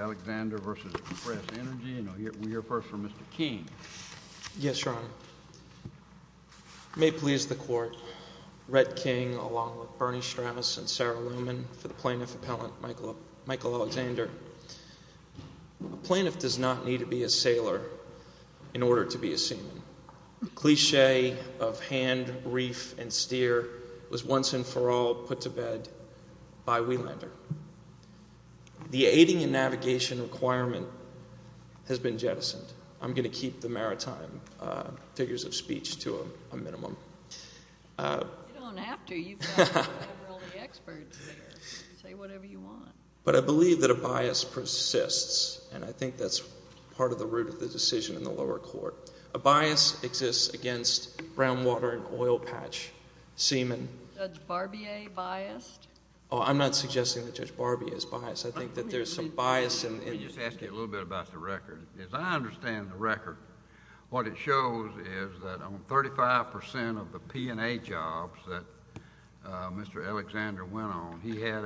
Alexander v. Express Energy Svc Oprt, L.P. May it please the Court, Red King, along with Bernie Strauss and Sarah Luman, for the Plaintiff Appellant Michael Alexander. A plaintiff does not need to be a sailor in order to be a seaman. The cliché of hand, reef, and steer was once and for all put to bed by Wielander. The aiding and navigation requirement has been jettisoned. I'm going to keep the maritime figures of speech to a minimum. You don't have to. You've got all the experts there. Say whatever you want. But I believe that a bias persists, and I think that's part of the root of the decision in the lower court. A bias exists against brown water and oil patch seamen. Is Judge Barbier biased? Oh, I'm not suggesting that Judge Barbier is biased. I think that there's some bias in— What it shows is that on 35 percent of the P&A jobs that Mr. Alexander went on, he had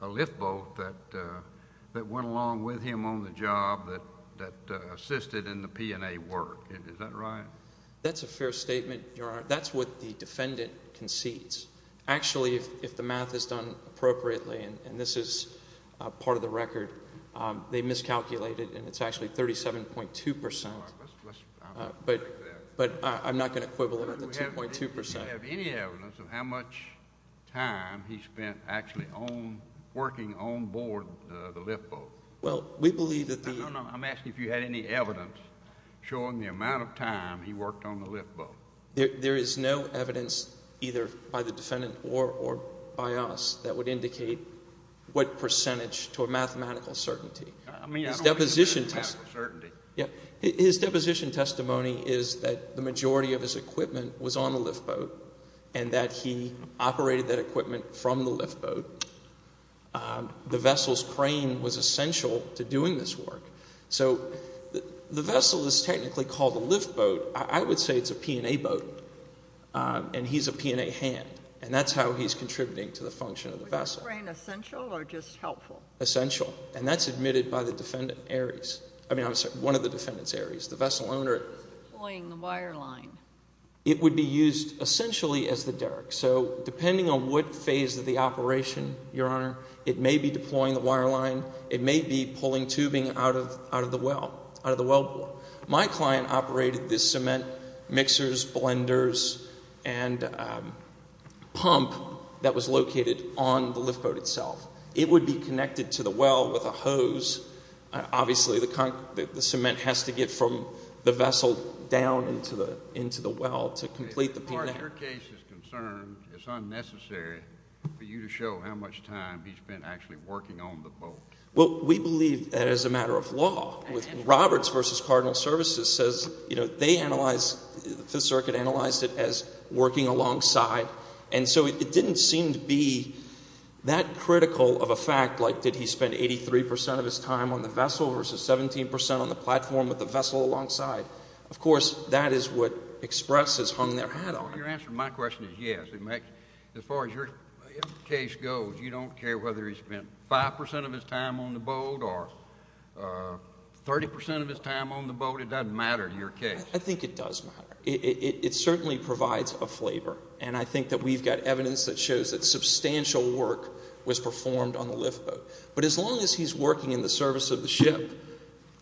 a lift boat that went along with him on the job that assisted in the P&A work. Is that right? That's a fair statement, Your Honor. That's what the defendant concedes. Actually, if the math is done appropriately, and this is part of the record, they miscalculated, and it's actually 37.2 percent. But I'm not going to quibble about the 2.2 percent. Do you have any evidence of how much time he spent actually working onboard the lift boat? Well, we believe that the— No, no, no. I'm asking if you had any evidence showing the amount of time he worked on the lift boat. There is no evidence either by the defendant or by us that would indicate what percentage to a mathematical certainty. His deposition testimony is that the majority of his equipment was on the lift boat and that he operated that equipment from the lift boat. The vessel's crane was essential to doing this work. So the vessel is technically called a lift boat. I would say it's a P&A boat, and he's a P&A hand, and that's how he's contributing to the function of the vessel. Was the crane essential or just helpful? Essential, and that's admitted by the defendant, Ares. I mean, I'm sorry, one of the defendants, Ares, the vessel owner. Deploying the wire line. It would be used essentially as the derrick. So depending on what phase of the operation, Your Honor, it may be deploying the wire line. It may be pulling tubing out of the well, out of the well bore. My client operated this cement mixers, blenders, and pump that was located on the lift boat itself. It would be connected to the well with a hose. Obviously, the cement has to get from the vessel down into the well to complete the P&A. Your case is concerned it's unnecessary for you to show how much time he spent actually working on the boat. Well, we believe that as a matter of law. Roberts v. Cardinal Services says they analyzed, the Fifth Circuit analyzed it as working alongside, and so it didn't seem to be that critical of a fact like did he spend 83 percent of his time on the vessel versus 17 percent on the platform with the vessel alongside. Of course, that is what Express has hung their hat on. Your answer to my question is yes. As far as your case goes, you don't care whether he spent 5 percent of his time on the boat or 30 percent of his time on the boat. It doesn't matter to your case. I think it does matter. It certainly provides a flavor, and I think that we've got evidence that shows that substantial work was performed on the lift boat. But as long as he's working in the service of the ship,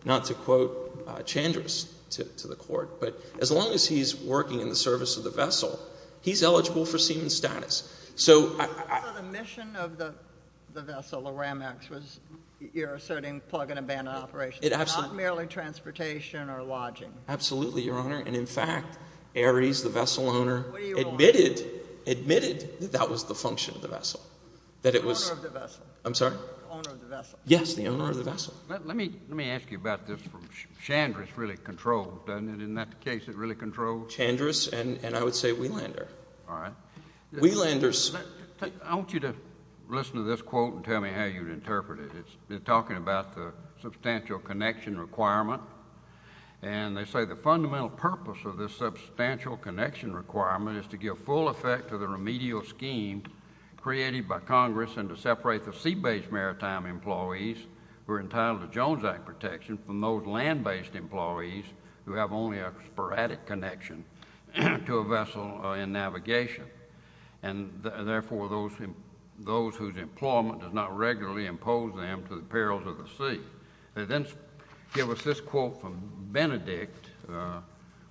not to quote Chandris to the court, but as long as he's working in the service of the vessel, he's eligible for seaman status. So I— So the mission of the vessel, the Ramex, was you're asserting plug-and-a-band operations, not merely transportation or lodging. Absolutely, Your Honor. And in fact, Ares, the vessel owner— What do you want? Admitted that that was the function of the vessel, that it was— The owner of the vessel. I'm sorry? The owner of the vessel. Yes, the owner of the vessel. Let me ask you about this. Chandris really controlled, doesn't it? Isn't that the case? It really controlled? Chandris and I would say Wielander. All right. Wielander's— I want you to listen to this quote and tell me how you'd interpret it. It's talking about the substantial connection requirement, and they say the fundamental purpose of this substantial connection requirement is to give full effect to the remedial scheme created by Congress and to separate the sea-based maritime employees who are entitled to Jones Act protection from those land-based employees who have only a sporadic connection to a vessel in navigation, and therefore those whose employment does not regularly impose them to the perils of the sea. And then give us this quote from Benedict.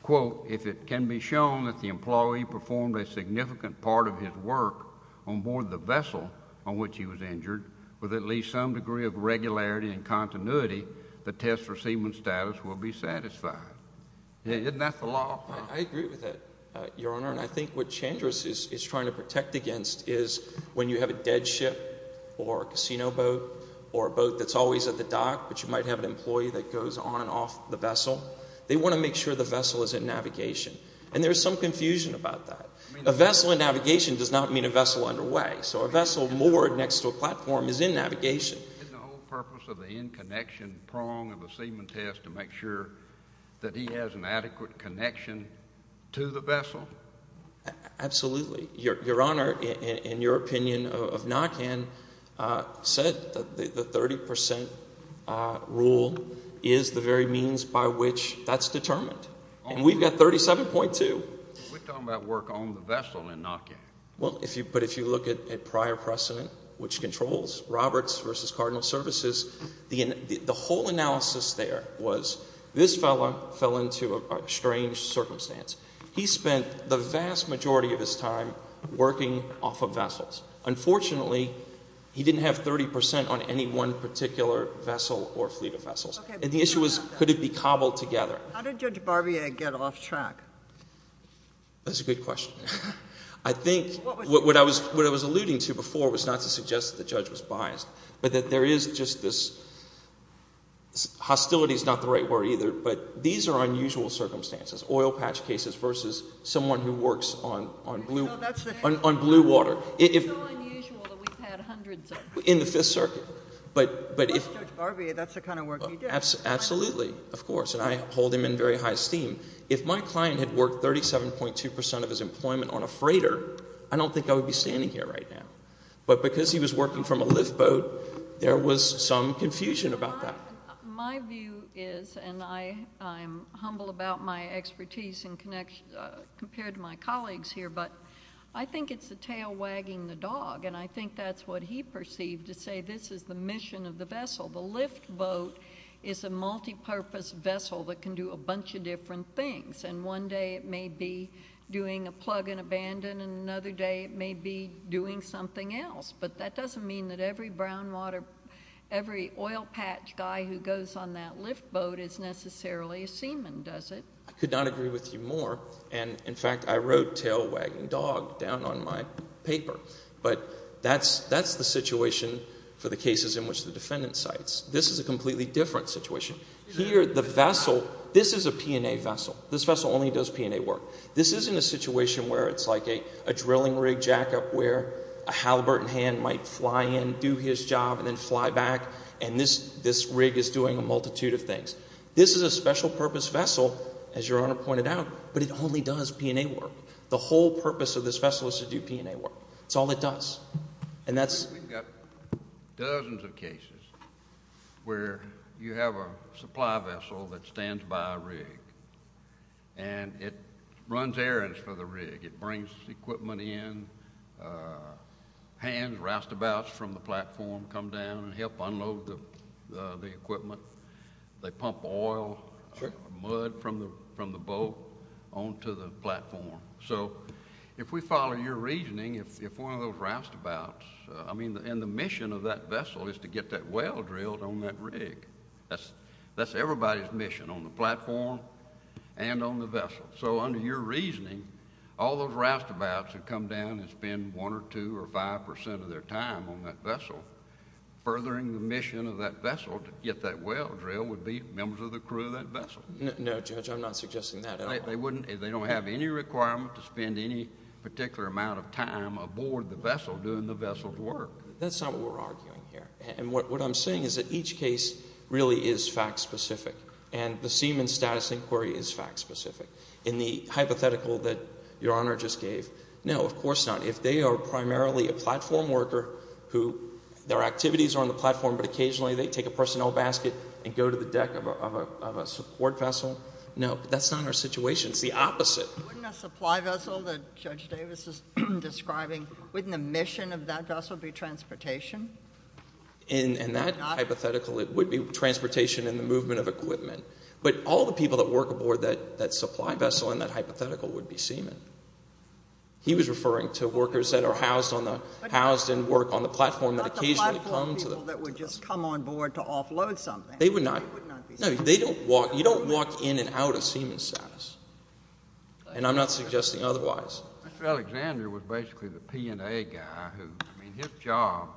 Quote, if it can be shown that the employee performed a significant part of his work on board the vessel on which he was injured with at least some degree of regularity and continuity, the test-receivement status will be satisfied. Isn't that the law? I agree with that, Your Honor, and I think what Chandris is trying to protect against is when you have a dead ship or a casino boat or a boat that's always at the dock, but you might have an employee that goes on and off the vessel, they want to make sure the vessel is in navigation. And there's some confusion about that. A vessel in navigation does not mean a vessel underway. So a vessel moored next to a platform is in navigation. Isn't the whole purpose of the in-connection prong of a seaman test to make sure that he has an adequate connection to the vessel? Absolutely. Your Honor, in your opinion of NACAN, said that the 30 percent rule is the very means by which that's determined. And we've got 37.2. We're talking about work on the vessel in NACAN. But if you look at prior precedent, which controls Roberts v. Cardinal Services, the whole analysis there was this fellow fell into a strange circumstance. He spent the vast majority of his time working off of vessels. Unfortunately, he didn't have 30 percent on any one particular vessel or fleet of vessels. And the issue was could it be cobbled together. How did Judge Barbier get off track? That's a good question. I think what I was alluding to before was not to suggest that the judge was biased, but that there is just this hostility is not the right word either, but these are unusual circumstances. Oil patch cases versus someone who works on blue water. It's so unusual that we've had hundreds of them. In the Fifth Circuit. But if... That's Judge Barbier. That's the kind of work he did. Absolutely, of course. And I hold him in very high esteem. If my client had worked 37.2 percent of his employment on a freighter, I don't think I would be standing here right now. But because he was working from a lift boat, there was some confusion about that. My view is, and I'm humble about my expertise compared to my colleagues here, but I think it's a tail wagging the dog, and I think that's what he perceived to say this is the mission of the vessel. The lift boat is a multipurpose vessel that can do a bunch of different things. And one day it may be doing a plug and abandon, and another day it may be doing something else. But that doesn't mean that every brown water... every oil patch guy who goes on that lift boat is necessarily a seaman, does it? I could not agree with you more. And, in fact, I wrote tail wagging dog down on my paper. But that's the situation for the cases in which the defendant cites. This is a completely different situation. Here, the vessel... This is a P&A vessel. This vessel only does P&A work. This isn't a situation where it's like a drilling rig jackup where a halibut in hand might fly in, do his job, and then fly back, and this rig is doing a multitude of things. This is a special purpose vessel, as Your Honor pointed out, but it only does P&A work. The whole purpose of this vessel is to do P&A work. That's all it does. And that's... We've got dozens of cases where you have a supply vessel that stands by a rig, and it runs errands for the rig. It brings equipment in, hands, roustabouts from the platform come down and help unload the equipment. They pump oil, mud from the boat onto the platform. So if we follow your reasoning, if one of those roustabouts... I mean, and the mission of that vessel is to get that well drilled on that rig. That's everybody's mission on the platform and on the vessel. So under your reasoning, all those roustabouts who come down and spend one or two or five percent of their time on that vessel, furthering the mission of that vessel to get that well drilled would be members of the crew of that vessel. No, Judge, I'm not suggesting that at all. They don't have any requirement to spend any particular amount of time aboard the vessel doing the vessel's work. That's not what we're arguing here. What I'm saying is that each case really is fact-specific, and the Seaman's Status Inquiry is fact-specific. In the hypothetical that Your Honor just gave, no, of course not. If they are primarily a platform worker who their activities are on the platform, but occasionally they take a personnel basket and go to the deck of a support vessel, no, that's not our situation. It's the opposite. Wouldn't a supply vessel that Judge Davis is describing, wouldn't the mission of that vessel be transportation? In that hypothetical, it would be transportation and the movement of equipment. But all the people that work aboard that supply vessel in that hypothetical would be seamen. He was referring to workers that are housed and work on the platform that occasionally come to the platform. But not the platform people that would just come on board to offload something. They would not. They would not be seamen. No, you don't walk in and out of Seaman's Status, and I'm not suggesting otherwise. Mr. Alexander was basically the P&A guy who, I mean, his job,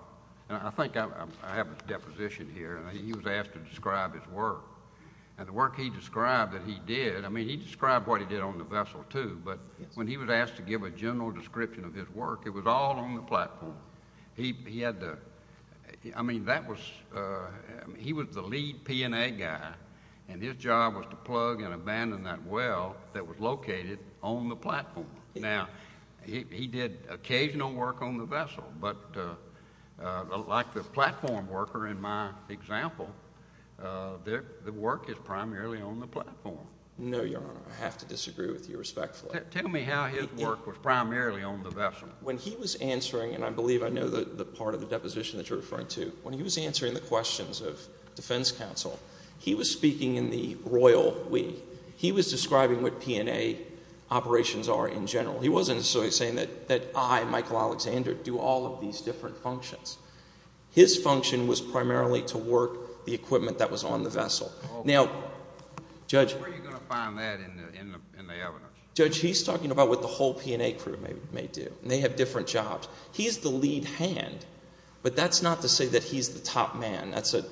and I think I have a deposition here, and he was asked to describe his work. And the work he described that he did, I mean, he described what he did on the vessel too, but when he was asked to give a general description of his work, it was all on the platform. He had to, I mean, that was, he was the lead P&A guy, and his job was to plug and abandon that well that was located on the platform. Now, he did occasional work on the vessel, but like the platform worker in my example, the work is primarily on the platform. No, Your Honor, I have to disagree with you respectfully. Tell me how his work was primarily on the vessel. When he was answering, and I believe I know the part of the deposition that you're referring to, when he was answering the questions of defense counsel, he was speaking in the royal way. He was describing what P&A operations are in general. He wasn't necessarily saying that I, Michael Alexander, do all of these different functions. His function was primarily to work the equipment that was on the vessel. Now, Judge. Where are you going to find that in the evidence? Judge, he's talking about what the whole P&A crew may do, and they have different jobs. He's the lead hand, but that's not to say that he's the top man. That's a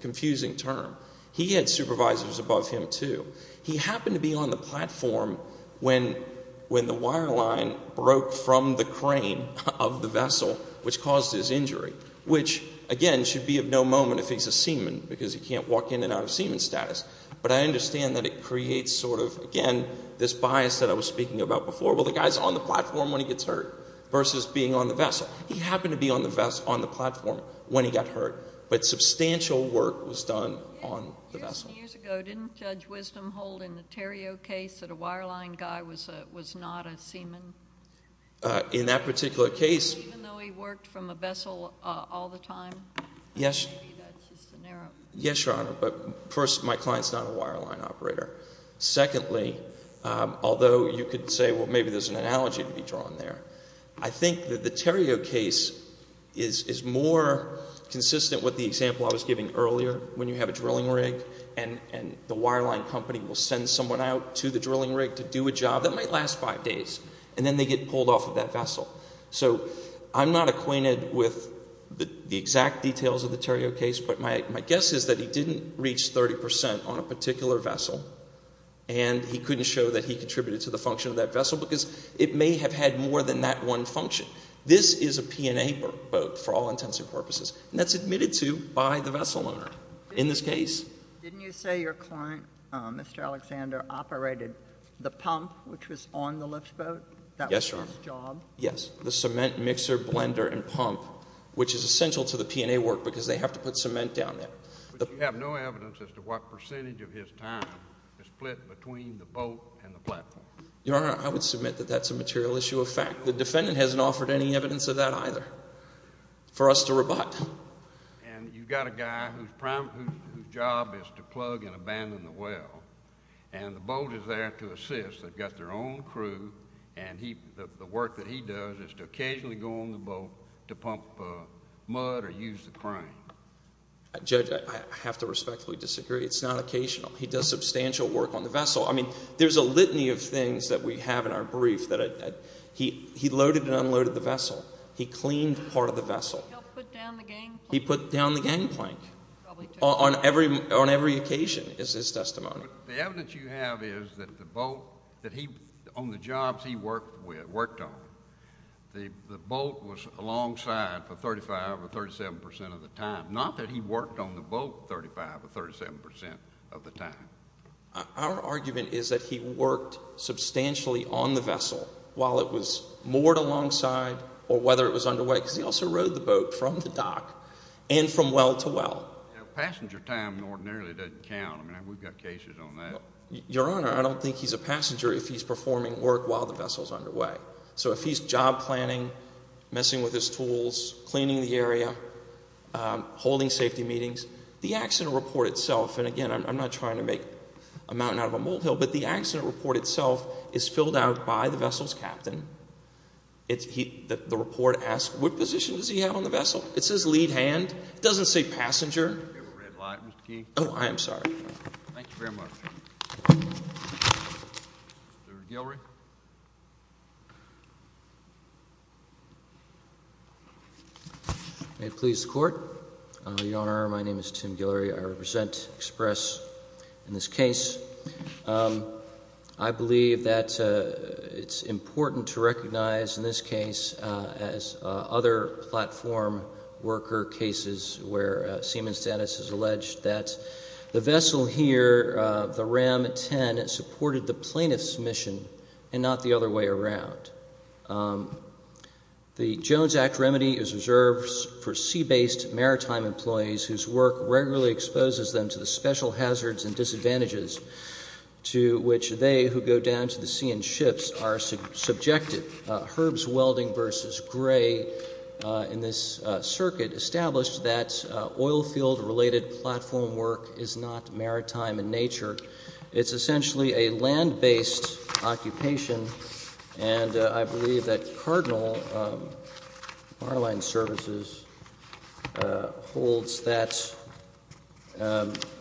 confusing term. He had supervisors above him, too. He happened to be on the platform when the wire line broke from the crane of the vessel, which caused his injury, which, again, should be of no moment if he's a seaman because he can't walk in and out of seaman status. But I understand that it creates sort of, again, this bias that I was speaking about before. Well, the guy's on the platform when he gets hurt versus being on the vessel. He happened to be on the platform when he got hurt, but substantial work was done on the vessel. Years ago, didn't Judge Wisdom hold in the Theriault case that a wire line guy was not a seaman? In that particular case. Even though he worked from a vessel all the time? Yes, Your Honor. But first, my client's not a wire line operator. Secondly, although you could say, well, maybe there's an analogy to be drawn there, I think that the Theriault case is more consistent with the example I was giving earlier, when you have a drilling rig and the wire line company will send someone out to the drilling rig to do a job that might last five days, and then they get pulled off of that vessel. So I'm not acquainted with the exact details of the Theriault case, but my guess is that he didn't reach 30% on a particular vessel and he couldn't show that he contributed to the function of that vessel because it may have had more than that one function. This is a P&A boat for all intents and purposes, and that's admitted to by the vessel owner in this case. Didn't you say your client, Mr. Alexander, operated the pump which was on the lift boat? Yes, Your Honor. That was his job? Yes, the cement mixer, blender, and pump, which is essential to the P&A work because they have to put cement down there. But you have no evidence as to what percentage of his time is split between the boat and the platform? Your Honor, I would submit that that's a material issue of fact. The defendant hasn't offered any evidence of that either for us to rebut. And you've got a guy whose job is to plug and abandon the well, and the boat is there to assist. They've got their own crew, and the work that he does is to occasionally go on the boat to pump mud or use the crane. Judge, I have to respectfully disagree. It's not occasional. He does substantial work on the vessel. I mean, there's a litany of things that we have in our brief that he loaded and unloaded the vessel. He cleaned part of the vessel. He helped put down the gangplank. He put down the gangplank on every occasion is his testimony. The evidence you have is that the boat that he, on the jobs he worked on, the boat was alongside for 35% or 37% of the time, not that he worked on the boat 35% or 37% of the time. Our argument is that he worked substantially on the vessel while it was moored alongside or whether it was underway because he also rode the boat from the dock and from well to well. Passenger time ordinarily doesn't count. I mean, we've got cases on that. Your Honor, I don't think he's a passenger if he's performing work while the vessel's underway. So if he's job planning, messing with his tools, cleaning the area, holding safety meetings, the accident report itself, and, again, I'm not trying to make a mountain out of a molehill, but the accident report itself is filled out by the vessel's captain. The report asks what position does he have on the vessel. It says lead hand. It doesn't say passenger. Do you have a red light, Mr. Key? Oh, I am sorry. Thank you very much. Mr. Guillory. May it please the Court. Your Honor, my name is Tim Guillory. I represent Express in this case. I believe that it's important to recognize in this case as other platform worker cases where Siemens Dennis has alleged that the vessel here, the RAM-10, supported the plaintiff's mission and not the other way around. The Jones Act remedy is reserved for sea-based maritime employees whose work regularly exposes them to the special hazards and disadvantages to which they who go down to the sea in ships are subjected. Herb's Welding v. Gray in this circuit established that oil field-related platform work is not maritime in nature. It's essentially a land-based occupation, and I believe that Cardinal Marlin Services holds that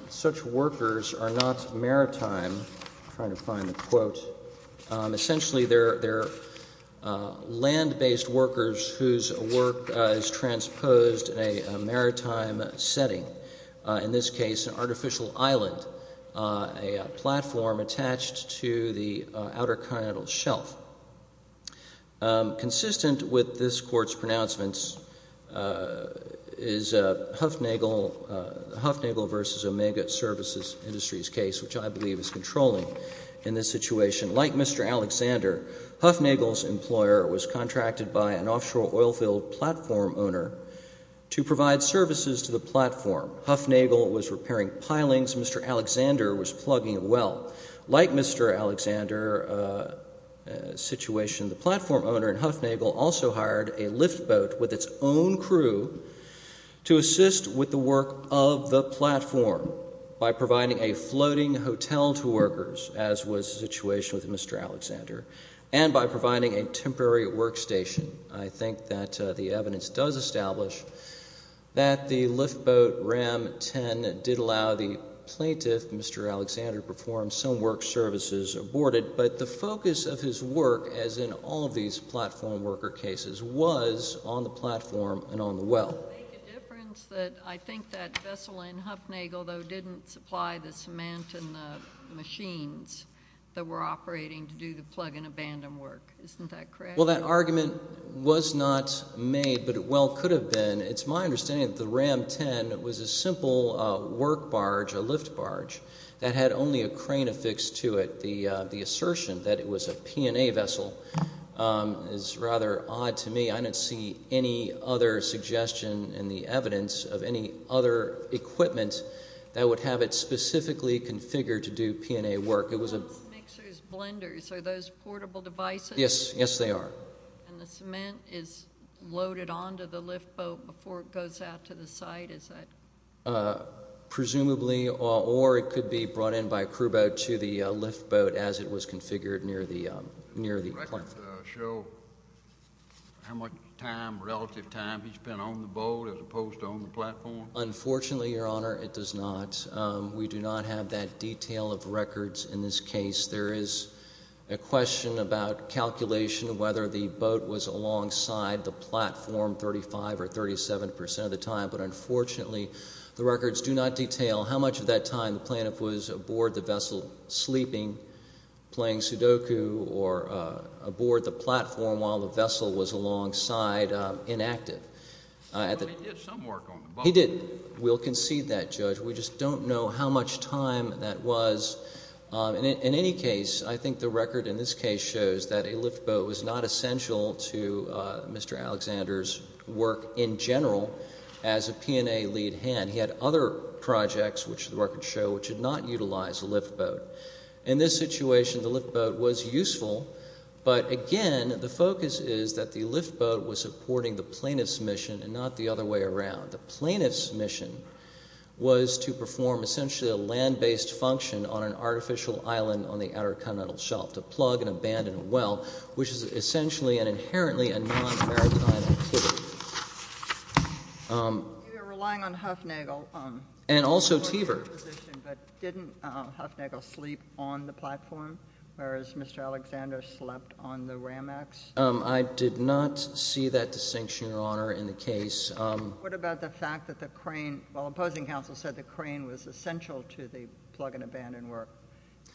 such workers are not maritime. Essentially, they're land-based workers whose work is transposed in a maritime setting, in this case an artificial island, a platform attached to the outer continental shelf. Consistent with this Court's pronouncements is Huffnagel v. Omega Services Industries case, which I believe is controlling in this situation. Like Mr. Alexander, Huffnagel's employer was contracted by an offshore oil field platform owner to provide services to the platform. Huffnagel was repairing pilings. Mr. Alexander was plugging a well. Like Mr. Alexander's situation, the platform owner in Huffnagel also hired a lift boat with its own crew to assist with the work of the platform by providing a floating hotel to workers, as was the situation with Mr. Alexander, and by providing a temporary workstation. I think that the evidence does establish that the lift boat, Ram 10, did allow the plaintiff, Mr. Alexander, to perform some work services aborted, but the focus of his work, as in all of these platform worker cases, was on the platform and on the well. It would make a difference that I think that vessel in Huffnagel, though, didn't supply the cement and the machines that were operating to do the plug and abandon work. Isn't that correct? Well, that argument was not made, but it well could have been. It's my understanding that the Ram 10 was a simple work barge, a lift barge, that had only a crane affixed to it. The assertion that it was a P&A vessel is rather odd to me. I don't see any other suggestion in the evidence of any other equipment that would have it specifically configured to do P&A work. It was a- Those mixers, blenders, are those portable devices? Yes, yes, they are. And the cement is loaded onto the lift boat before it goes out to the site, is that- Presumably, or it could be brought in by a crew boat to the lift boat as it was configured near the plant. Does the record show how much time, relative time, he spent on the boat as opposed to on the platform? Unfortunately, Your Honor, it does not. We do not have that detail of records in this case. There is a question about calculation of whether the boat was alongside the platform 35 or 37 percent of the time, but unfortunately the records do not detail how much of that time the plaintiff was aboard the vessel sleeping, playing Sudoku, or aboard the platform while the vessel was alongside inactive. He did some work on the boat. He did. We'll concede that, Judge. We just don't know how much time that was. In any case, I think the record in this case shows that a lift boat was not essential to Mr. Alexander's work in general as a P&A lead hand. He had other projects, which the records show, which did not utilize a lift boat. In this situation, the lift boat was useful, but again, the focus is that the lift boat was supporting the plaintiff's mission and not the other way around. The plaintiff's mission was to perform essentially a land-based function on an artificial island on the outer continental shelf, to plug an abandoned well, which is essentially and inherently a non-maritime activity. You're relying on Huffnagel. And also Teaver. But didn't Huffnagel sleep on the platform, whereas Mr. Alexander slept on the ramex? I did not see that distinction, Your Honor, in the case. What about the fact that the crane, while opposing counsel said the crane was essential to the plug and abandon work,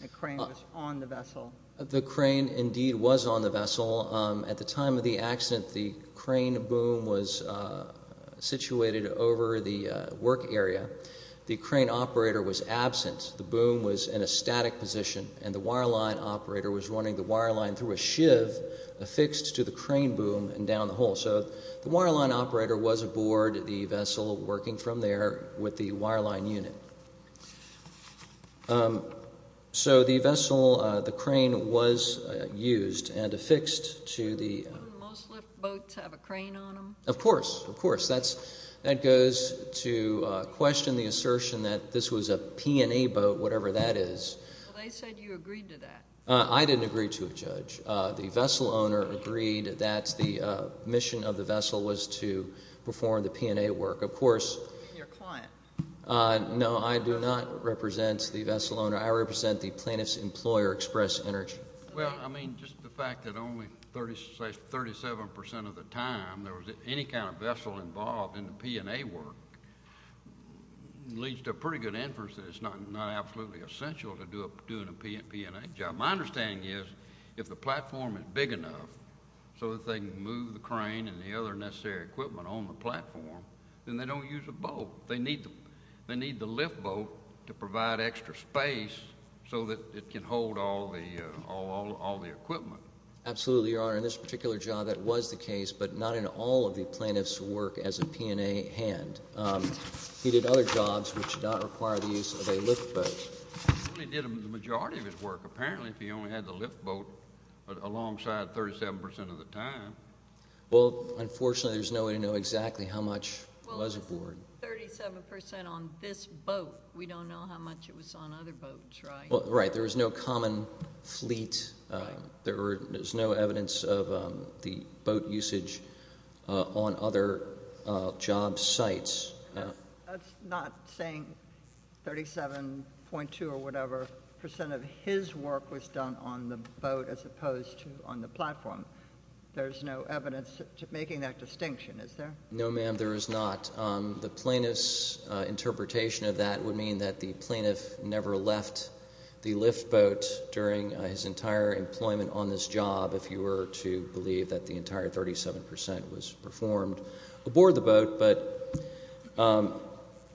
the crane was on the vessel? The crane indeed was on the vessel. At the time of the accident, the crane boom was situated over the work area. The crane operator was absent. The boom was in a static position, and the wireline operator was running the wireline through a shiv affixed to the crane boom and down the hole. So the wireline operator was aboard the vessel working from there with the wireline unit. So the vessel, the crane, was used and affixed to the- Don't most liftboats have a crane on them? Of course. Of course. That goes to question the assertion that this was a P&A boat, whatever that is. Well, they said you agreed to that. I didn't agree to it, Judge. The vessel owner agreed that the mission of the vessel was to perform the P&A work. Of course- Your client. No, I do not represent the vessel owner. I represent the plaintiff's employer, Express Energy. Well, I mean, just the fact that only 37% of the time there was any kind of vessel involved in the P&A work leads to a pretty good inference that it's not absolutely essential to doing a P&A job. My understanding is if the platform is big enough so that they can move the crane and the other necessary equipment on the platform, then they don't use a boat. They need the liftboat to provide extra space so that it can hold all the equipment. Absolutely, Your Honor. In this particular job, that was the case, but not in all of the plaintiff's work as a P&A hand. He did other jobs which do not require the use of a liftboat. Well, he did the majority of his work, apparently, if he only had the liftboat alongside 37% of the time. Well, unfortunately, there's no way to know exactly how much was aboard. Well, if it was 37% on this boat, we don't know how much it was on other boats, right? Right. There was no common fleet. There was no evidence of the boat usage on other job sites. That's not saying 37.2 or whatever percent of his work was done on the boat as opposed to on the platform. There's no evidence to making that distinction, is there? No, ma'am, there is not. The plaintiff's interpretation of that would mean that the plaintiff never left the liftboat during his entire employment on this job, if you were to believe that the entire 37% was performed aboard the boat.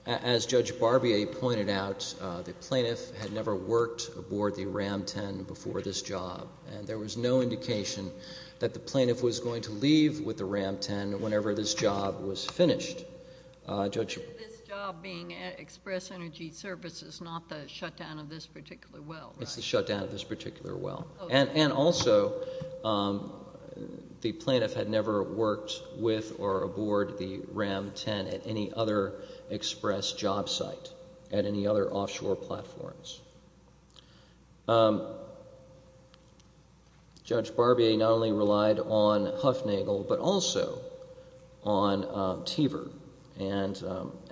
But as Judge Barbier pointed out, the plaintiff had never worked aboard the Ram 10 before this job, and there was no indication that the plaintiff was going to leave with the Ram 10 whenever this job was finished. This job being at Express Energy Services, not the shutdown of this particular well, right? It's the shutdown of this particular well. And also, the plaintiff had never worked with or aboard the Ram 10 at any other Express job site, at any other offshore platforms. Judge Barbier not only relied on Huffnagle, but also on Teaver. And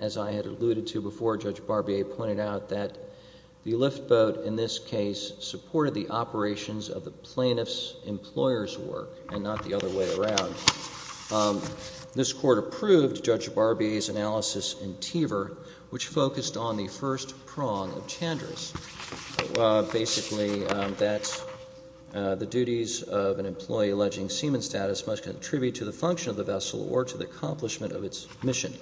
as I had alluded to before, Judge Barbier pointed out that the liftboat, in this case, supported the operations of the plaintiff's employer's work and not the other way around. This Court approved Judge Barbier's analysis in Teaver, which focused on the first prong of Chandra's, basically that the duties of an employee alleging seaman status must contribute to the function of the vessel or to the accomplishment of its mission.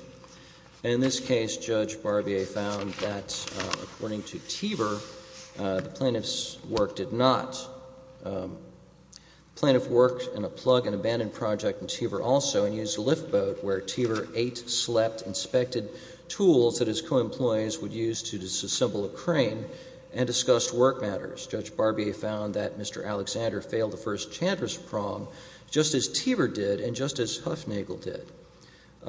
And in this case, Judge Barbier found that, according to Teaver, the plaintiff's work did not. The plaintiff worked in a plug and abandoned project in Teaver also and used a liftboat, where Teaver ate, slept, inspected tools that his co-employees would use to disassemble a crane, and discussed work matters. Judge Barbier found that Mr. Alexander failed the first Chandra's prong just as Teaver did and just as Huffnagle did.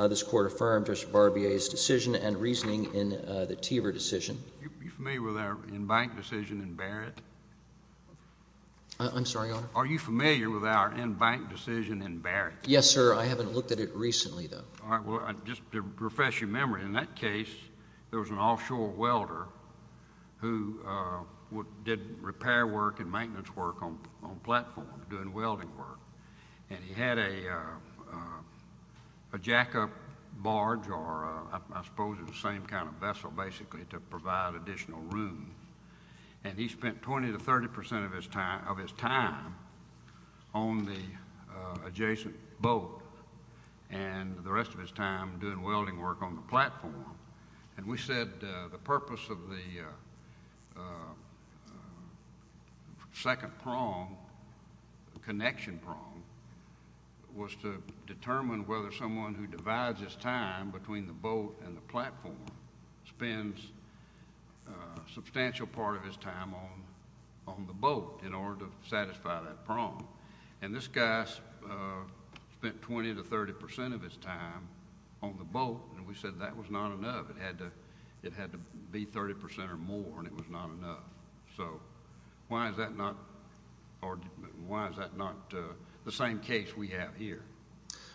This Court affirmed Judge Barbier's decision and reasoning in the Teaver decision. Are you familiar with our in-bank decision in Barrett? I'm sorry, Your Honor? Are you familiar with our in-bank decision in Barrett? Yes, sir. I haven't looked at it recently, though. All right, well, just to refresh your memory, in that case there was an offshore welder who did repair work and maintenance work on a platform doing welding work, and he had a jack-up barge, or I suppose it was the same kind of vessel, basically, to provide additional room, and he spent 20 to 30 percent of his time on the adjacent boat and the rest of his time doing welding work on the platform, and we said the purpose of the second prong, connection prong, was to determine whether someone who divides his time between the boat and the platform spends a substantial part of his time on the boat in order to satisfy that prong, and this guy spent 20 to 30 percent of his time on the boat, and we said that was not enough. It had to be 30 percent or more, and it was not enough. So why is that not the same case we have here?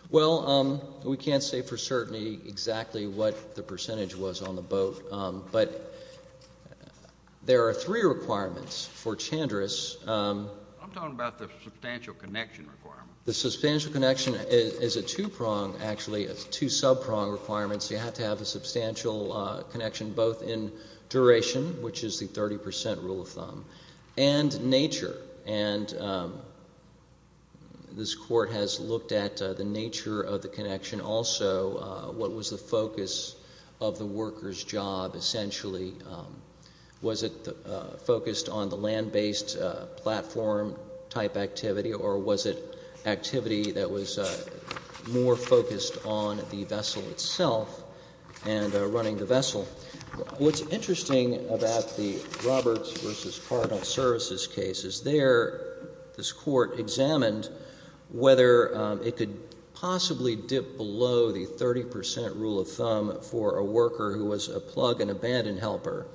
Well, we can't say for certainty exactly what the percentage was on the boat, but there are three requirements for Chandris. I'm talking about the substantial connection requirement. The substantial connection is a two-prong, actually. It's two sub-prong requirements. You have to have a substantial connection both in duration, which is the 30 percent rule of thumb, and nature, and this court has looked at the nature of the connection also, what was the focus of the worker's job, essentially. Was it focused on the land-based platform type activity or was it activity that was more focused on the vessel itself and running the vessel? What's interesting about the Roberts v. Cardinal Services case is there this court examined whether it could possibly dip below the 30 percent rule of thumb for a worker who was a plug and abandon helper,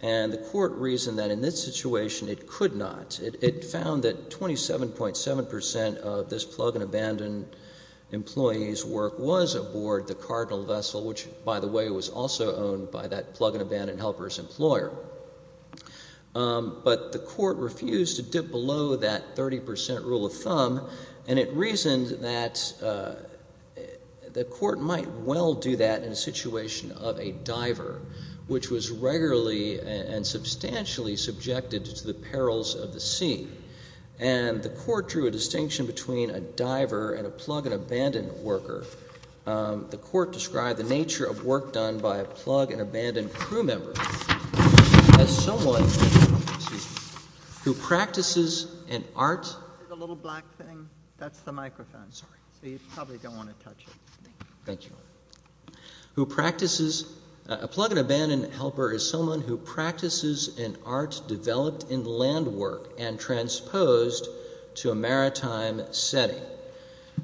and the court reasoned that in this situation it could not. It found that 27.7 percent of this plug and abandon employee's work was aboard the Cardinal vessel, which, by the way, was also owned by that plug and abandon helper's employer. But the court refused to dip below that 30 percent rule of thumb, and it reasoned that the court might well do that in a situation of a diver, which was regularly and substantially subjected to the perils of the sea, and the court drew a distinction between a diver and a plug and abandon worker. The court described the nature of work done by a plug and abandon crew member as someone who practices an art That's the microphone, so you probably don't want to touch it. Thank you. A plug and abandon helper is someone who practices an art developed in land work and transposed to a maritime setting.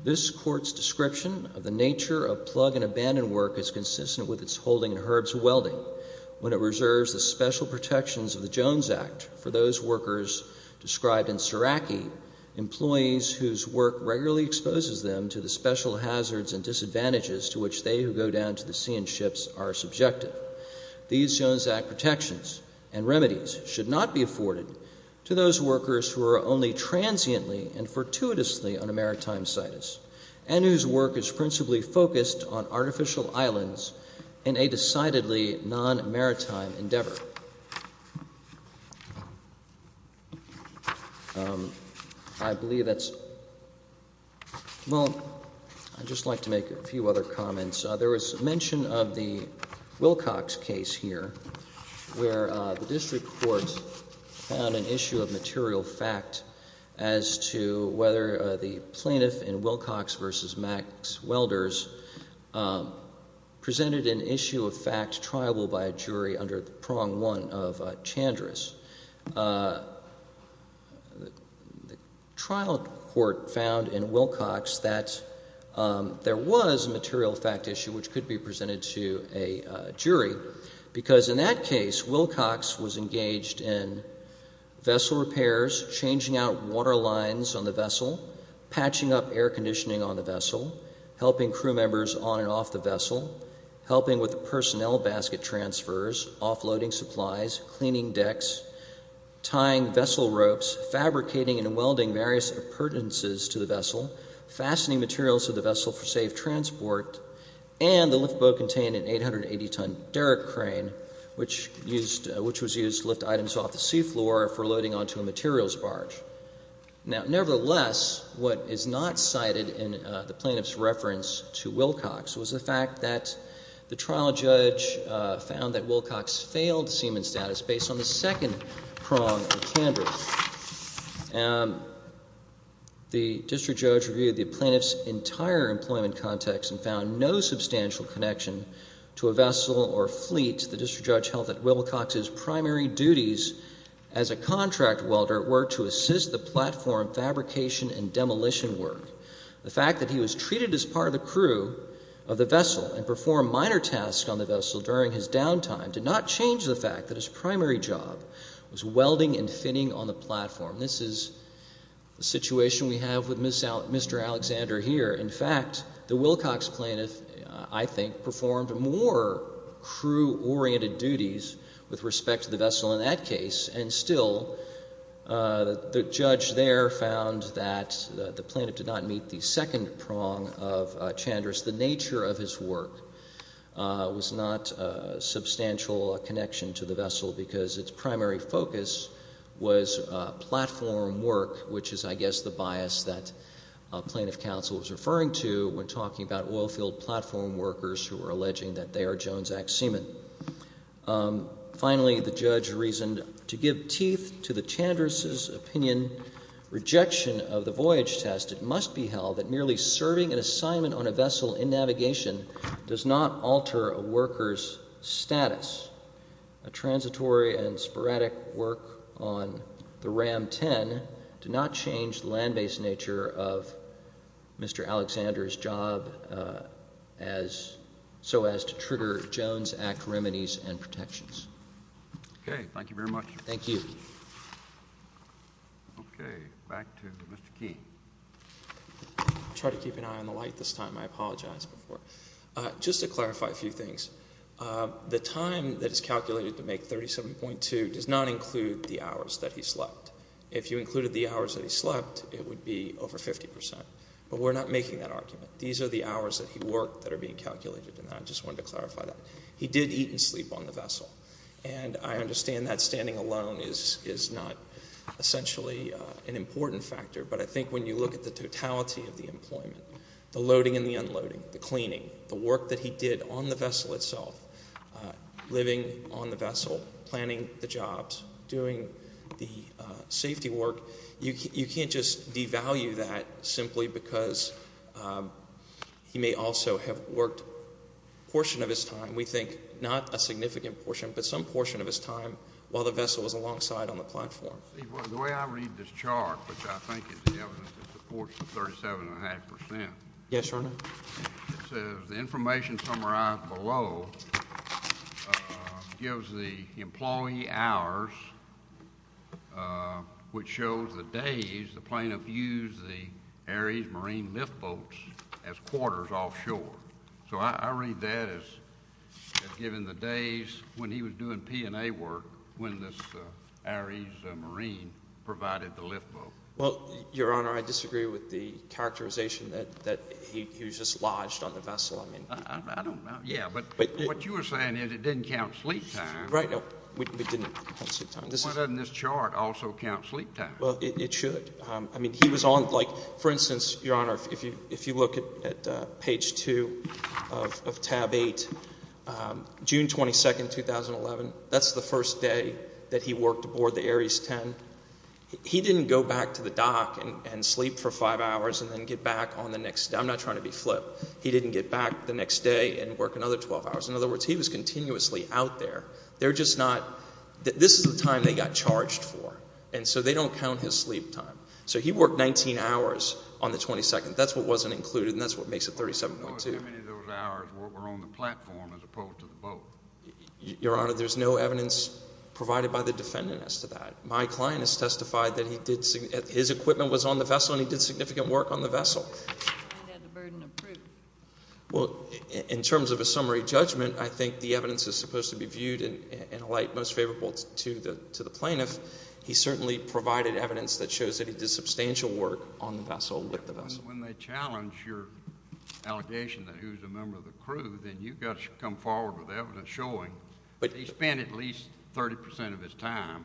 This court's description of the nature of plug and abandon work is consistent with its holding in Herb's Welding when it reserves the special protections of the Jones Act for those workers described in Seraki, employees whose work regularly exposes them to the special hazards and disadvantages to which they who go down to the sea in ships are subjective. These Jones Act protections and remedies should not be afforded to those workers who are only transiently and fortuitously on a maritime situs and whose work is principally focused on artificial islands in a decidedly non-maritime endeavor. I'd just like to make a few other comments. There was mention of the Wilcox case here, where the district court found an issue of material fact as to whether the plaintiff in Wilcox v. Max Welders presented an issue of fact triable by a jury under the prong one of Chandris. The trial court found in Wilcox that there was a material fact issue which could be presented to a jury because in that case, Wilcox was engaged in vessel repairs, changing out water lines on the vessel, patching up air conditioning on the vessel, helping crew members on and off the vessel, helping with the personnel basket transfers, offloading supplies, cleaning decks, tying vessel ropes, fabricating and welding various appurtenances to the vessel, fastening materials to the vessel for safe transport, and the lift boat contained an 880-ton derrick crane, which was used to lift items off the seafloor for loading onto a materials barge. Nevertheless, what is not cited in the plaintiff's reference to Wilcox was the fact that the trial judge found that Wilcox failed seaman status based on the second prong of Chandris. The district judge reviewed the plaintiff's entire employment context and found no substantial connection to a vessel or fleet. The district judge held that Wilcox's primary duties as a contract welder were to assist the platform fabrication and demolition work. The fact that he was treated as part of the crew of the vessel and performed minor tasks on the vessel during his downtime did not change the fact that his primary job was welding and finning on the platform. This is the situation we have with Mr. Alexander here. In fact, the Wilcox plaintiff, I think, performed more crew-oriented duties with respect to the vessel in that case, and still the judge there found that the plaintiff did not meet the second prong of Chandris. The nature of his work was not a substantial connection to the vessel because its primary focus was platform work, which is, I guess, the bias that plaintiff counsel was referring to when talking about oilfield platform workers who were alleging that they are Jones Act seamen. Finally, the judge reasoned to give teeth to the Chandris's opinion, rejection of the voyage test, as it must be held that merely serving an assignment on a vessel in navigation does not alter a worker's status. A transitory and sporadic work on the RAM-10 did not change the land-based nature of Mr. Alexander's job so as to trigger Jones Act remedies and protections. Okay. Thank you very much. Thank you. Okay. Back to Mr. Key. I'll try to keep an eye on the light this time. I apologize before. Just to clarify a few things, the time that is calculated to make 37.2 does not include the hours that he slept. If you included the hours that he slept, it would be over 50 percent, but we're not making that argument. These are the hours that he worked that are being calculated, and I just wanted to clarify that. He did eat and sleep on the vessel, and I understand that standing alone is not essentially an important factor, but I think when you look at the totality of the employment, the loading and the unloading, the cleaning, the work that he did on the vessel itself, living on the vessel, planning the jobs, doing the safety work, you can't just devalue that simply because he may also have worked a portion of his time. And we think not a significant portion, but some portion of his time while the vessel was alongside on the platform. The way I read this chart, which I think is the evidence that supports the 37.5 percent. Yes, Your Honor. It says the information summarized below gives the employee hours, which shows the days the plaintiff used the Aries Marine lift boats as quarters offshore. So I read that as giving the days when he was doing P&A work when this Aries Marine provided the lift boat. Well, Your Honor, I disagree with the characterization that he was just lodged on the vessel. I don't know. Yeah, but what you were saying is it didn't count sleep time. Right. No, it didn't count sleep time. Why doesn't this chart also count sleep time? Well, it should. For instance, Your Honor, if you look at page 2 of tab 8, June 22, 2011, that's the first day that he worked aboard the Aries 10. He didn't go back to the dock and sleep for five hours and then get back on the next day. I'm not trying to be flip. He didn't get back the next day and work another 12 hours. In other words, he was continuously out there. This is the time they got charged for, and so they don't count his sleep time. So he worked 19 hours on the 22nd. That's what wasn't included, and that's what makes it 37.2. How many of those hours were on the platform as opposed to the boat? Your Honor, there's no evidence provided by the defendant as to that. My client has testified that his equipment was on the vessel, and he did significant work on the vessel. And had the burden of proof. Well, in terms of a summary judgment, I think the evidence is supposed to be viewed in a light most favorable to the plaintiff. He certainly provided evidence that shows that he did substantial work on the vessel with the vessel. When they challenge your allegation that he was a member of the crew, then you've got to come forward with evidence showing that he spent at least 30% of his time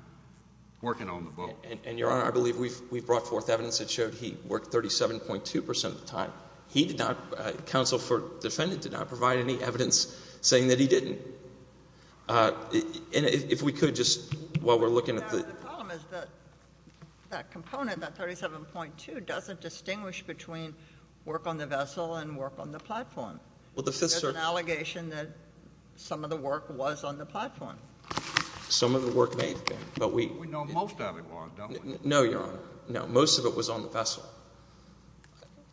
working on the boat. And, Your Honor, I believe we've brought forth evidence that showed he worked 37.2% of the time. He did not, counsel for the defendant did not provide any evidence saying that he didn't. And if we could just, while we're looking at the... The problem is that that component, that 37.2, doesn't distinguish between work on the vessel and work on the platform. Well, the Fifth Circuit... There's an allegation that some of the work was on the platform. Some of the work may have been, but we... We know most of it was, don't we? No, Your Honor. No, most of it was on the vessel.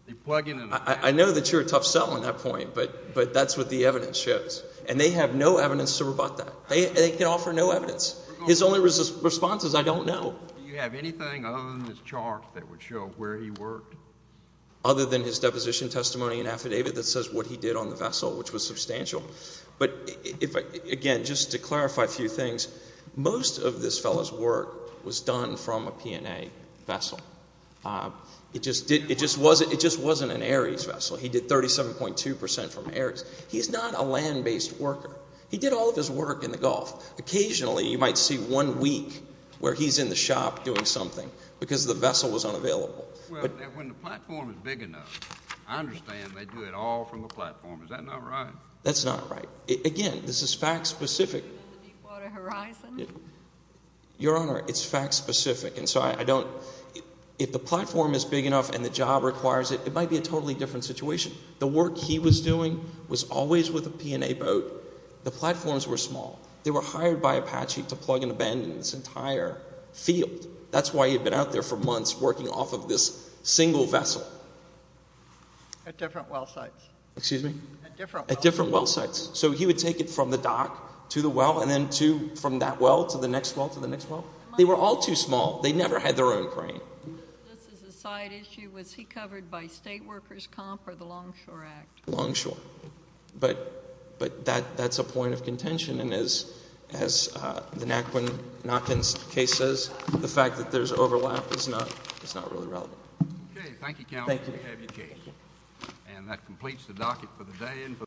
You plug in... I know that you're a tough sell on that point, but that's what the evidence shows. And they have no evidence to rebut that. They can offer no evidence. His only response is, I don't know. Do you have anything other than this chart that would show where he worked? Other than his deposition testimony and affidavit that says what he did on the vessel, which was substantial. But, again, just to clarify a few things, most of this fellow's work was done from a P&A vessel. It just wasn't an Ares vessel. He did 37.2 percent from Ares. He's not a land-based worker. He did all of his work in the Gulf. Occasionally, you might see one week where he's in the shop doing something because the vessel was unavailable. Well, when the platform is big enough, I understand they do it all from a platform. Is that not right? That's not right. Again, this is fact specific... Deepwater Horizon? Your Honor, it's fact specific. If the platform is big enough and the job requires it, it might be a totally different situation. The work he was doing was always with a P&A boat. The platforms were small. They were hired by Apache to plug in a bend in this entire field. That's why he had been out there for months working off of this single vessel. At different well sites. Excuse me? At different well sites. At different well sites. So he would take it from the dock to the well and then from that well to the next well to the next well? They were all too small. They never had their own crane. This is a side issue. Was he covered by state workers' comp or the Longshore Act? Longshore. But that's a point of contention. And as the Naquin's case says, the fact that there's overlap is not really relevant. Okay. Thank you, Counsel. Thank you. You have your case. And that completes the docket for the day.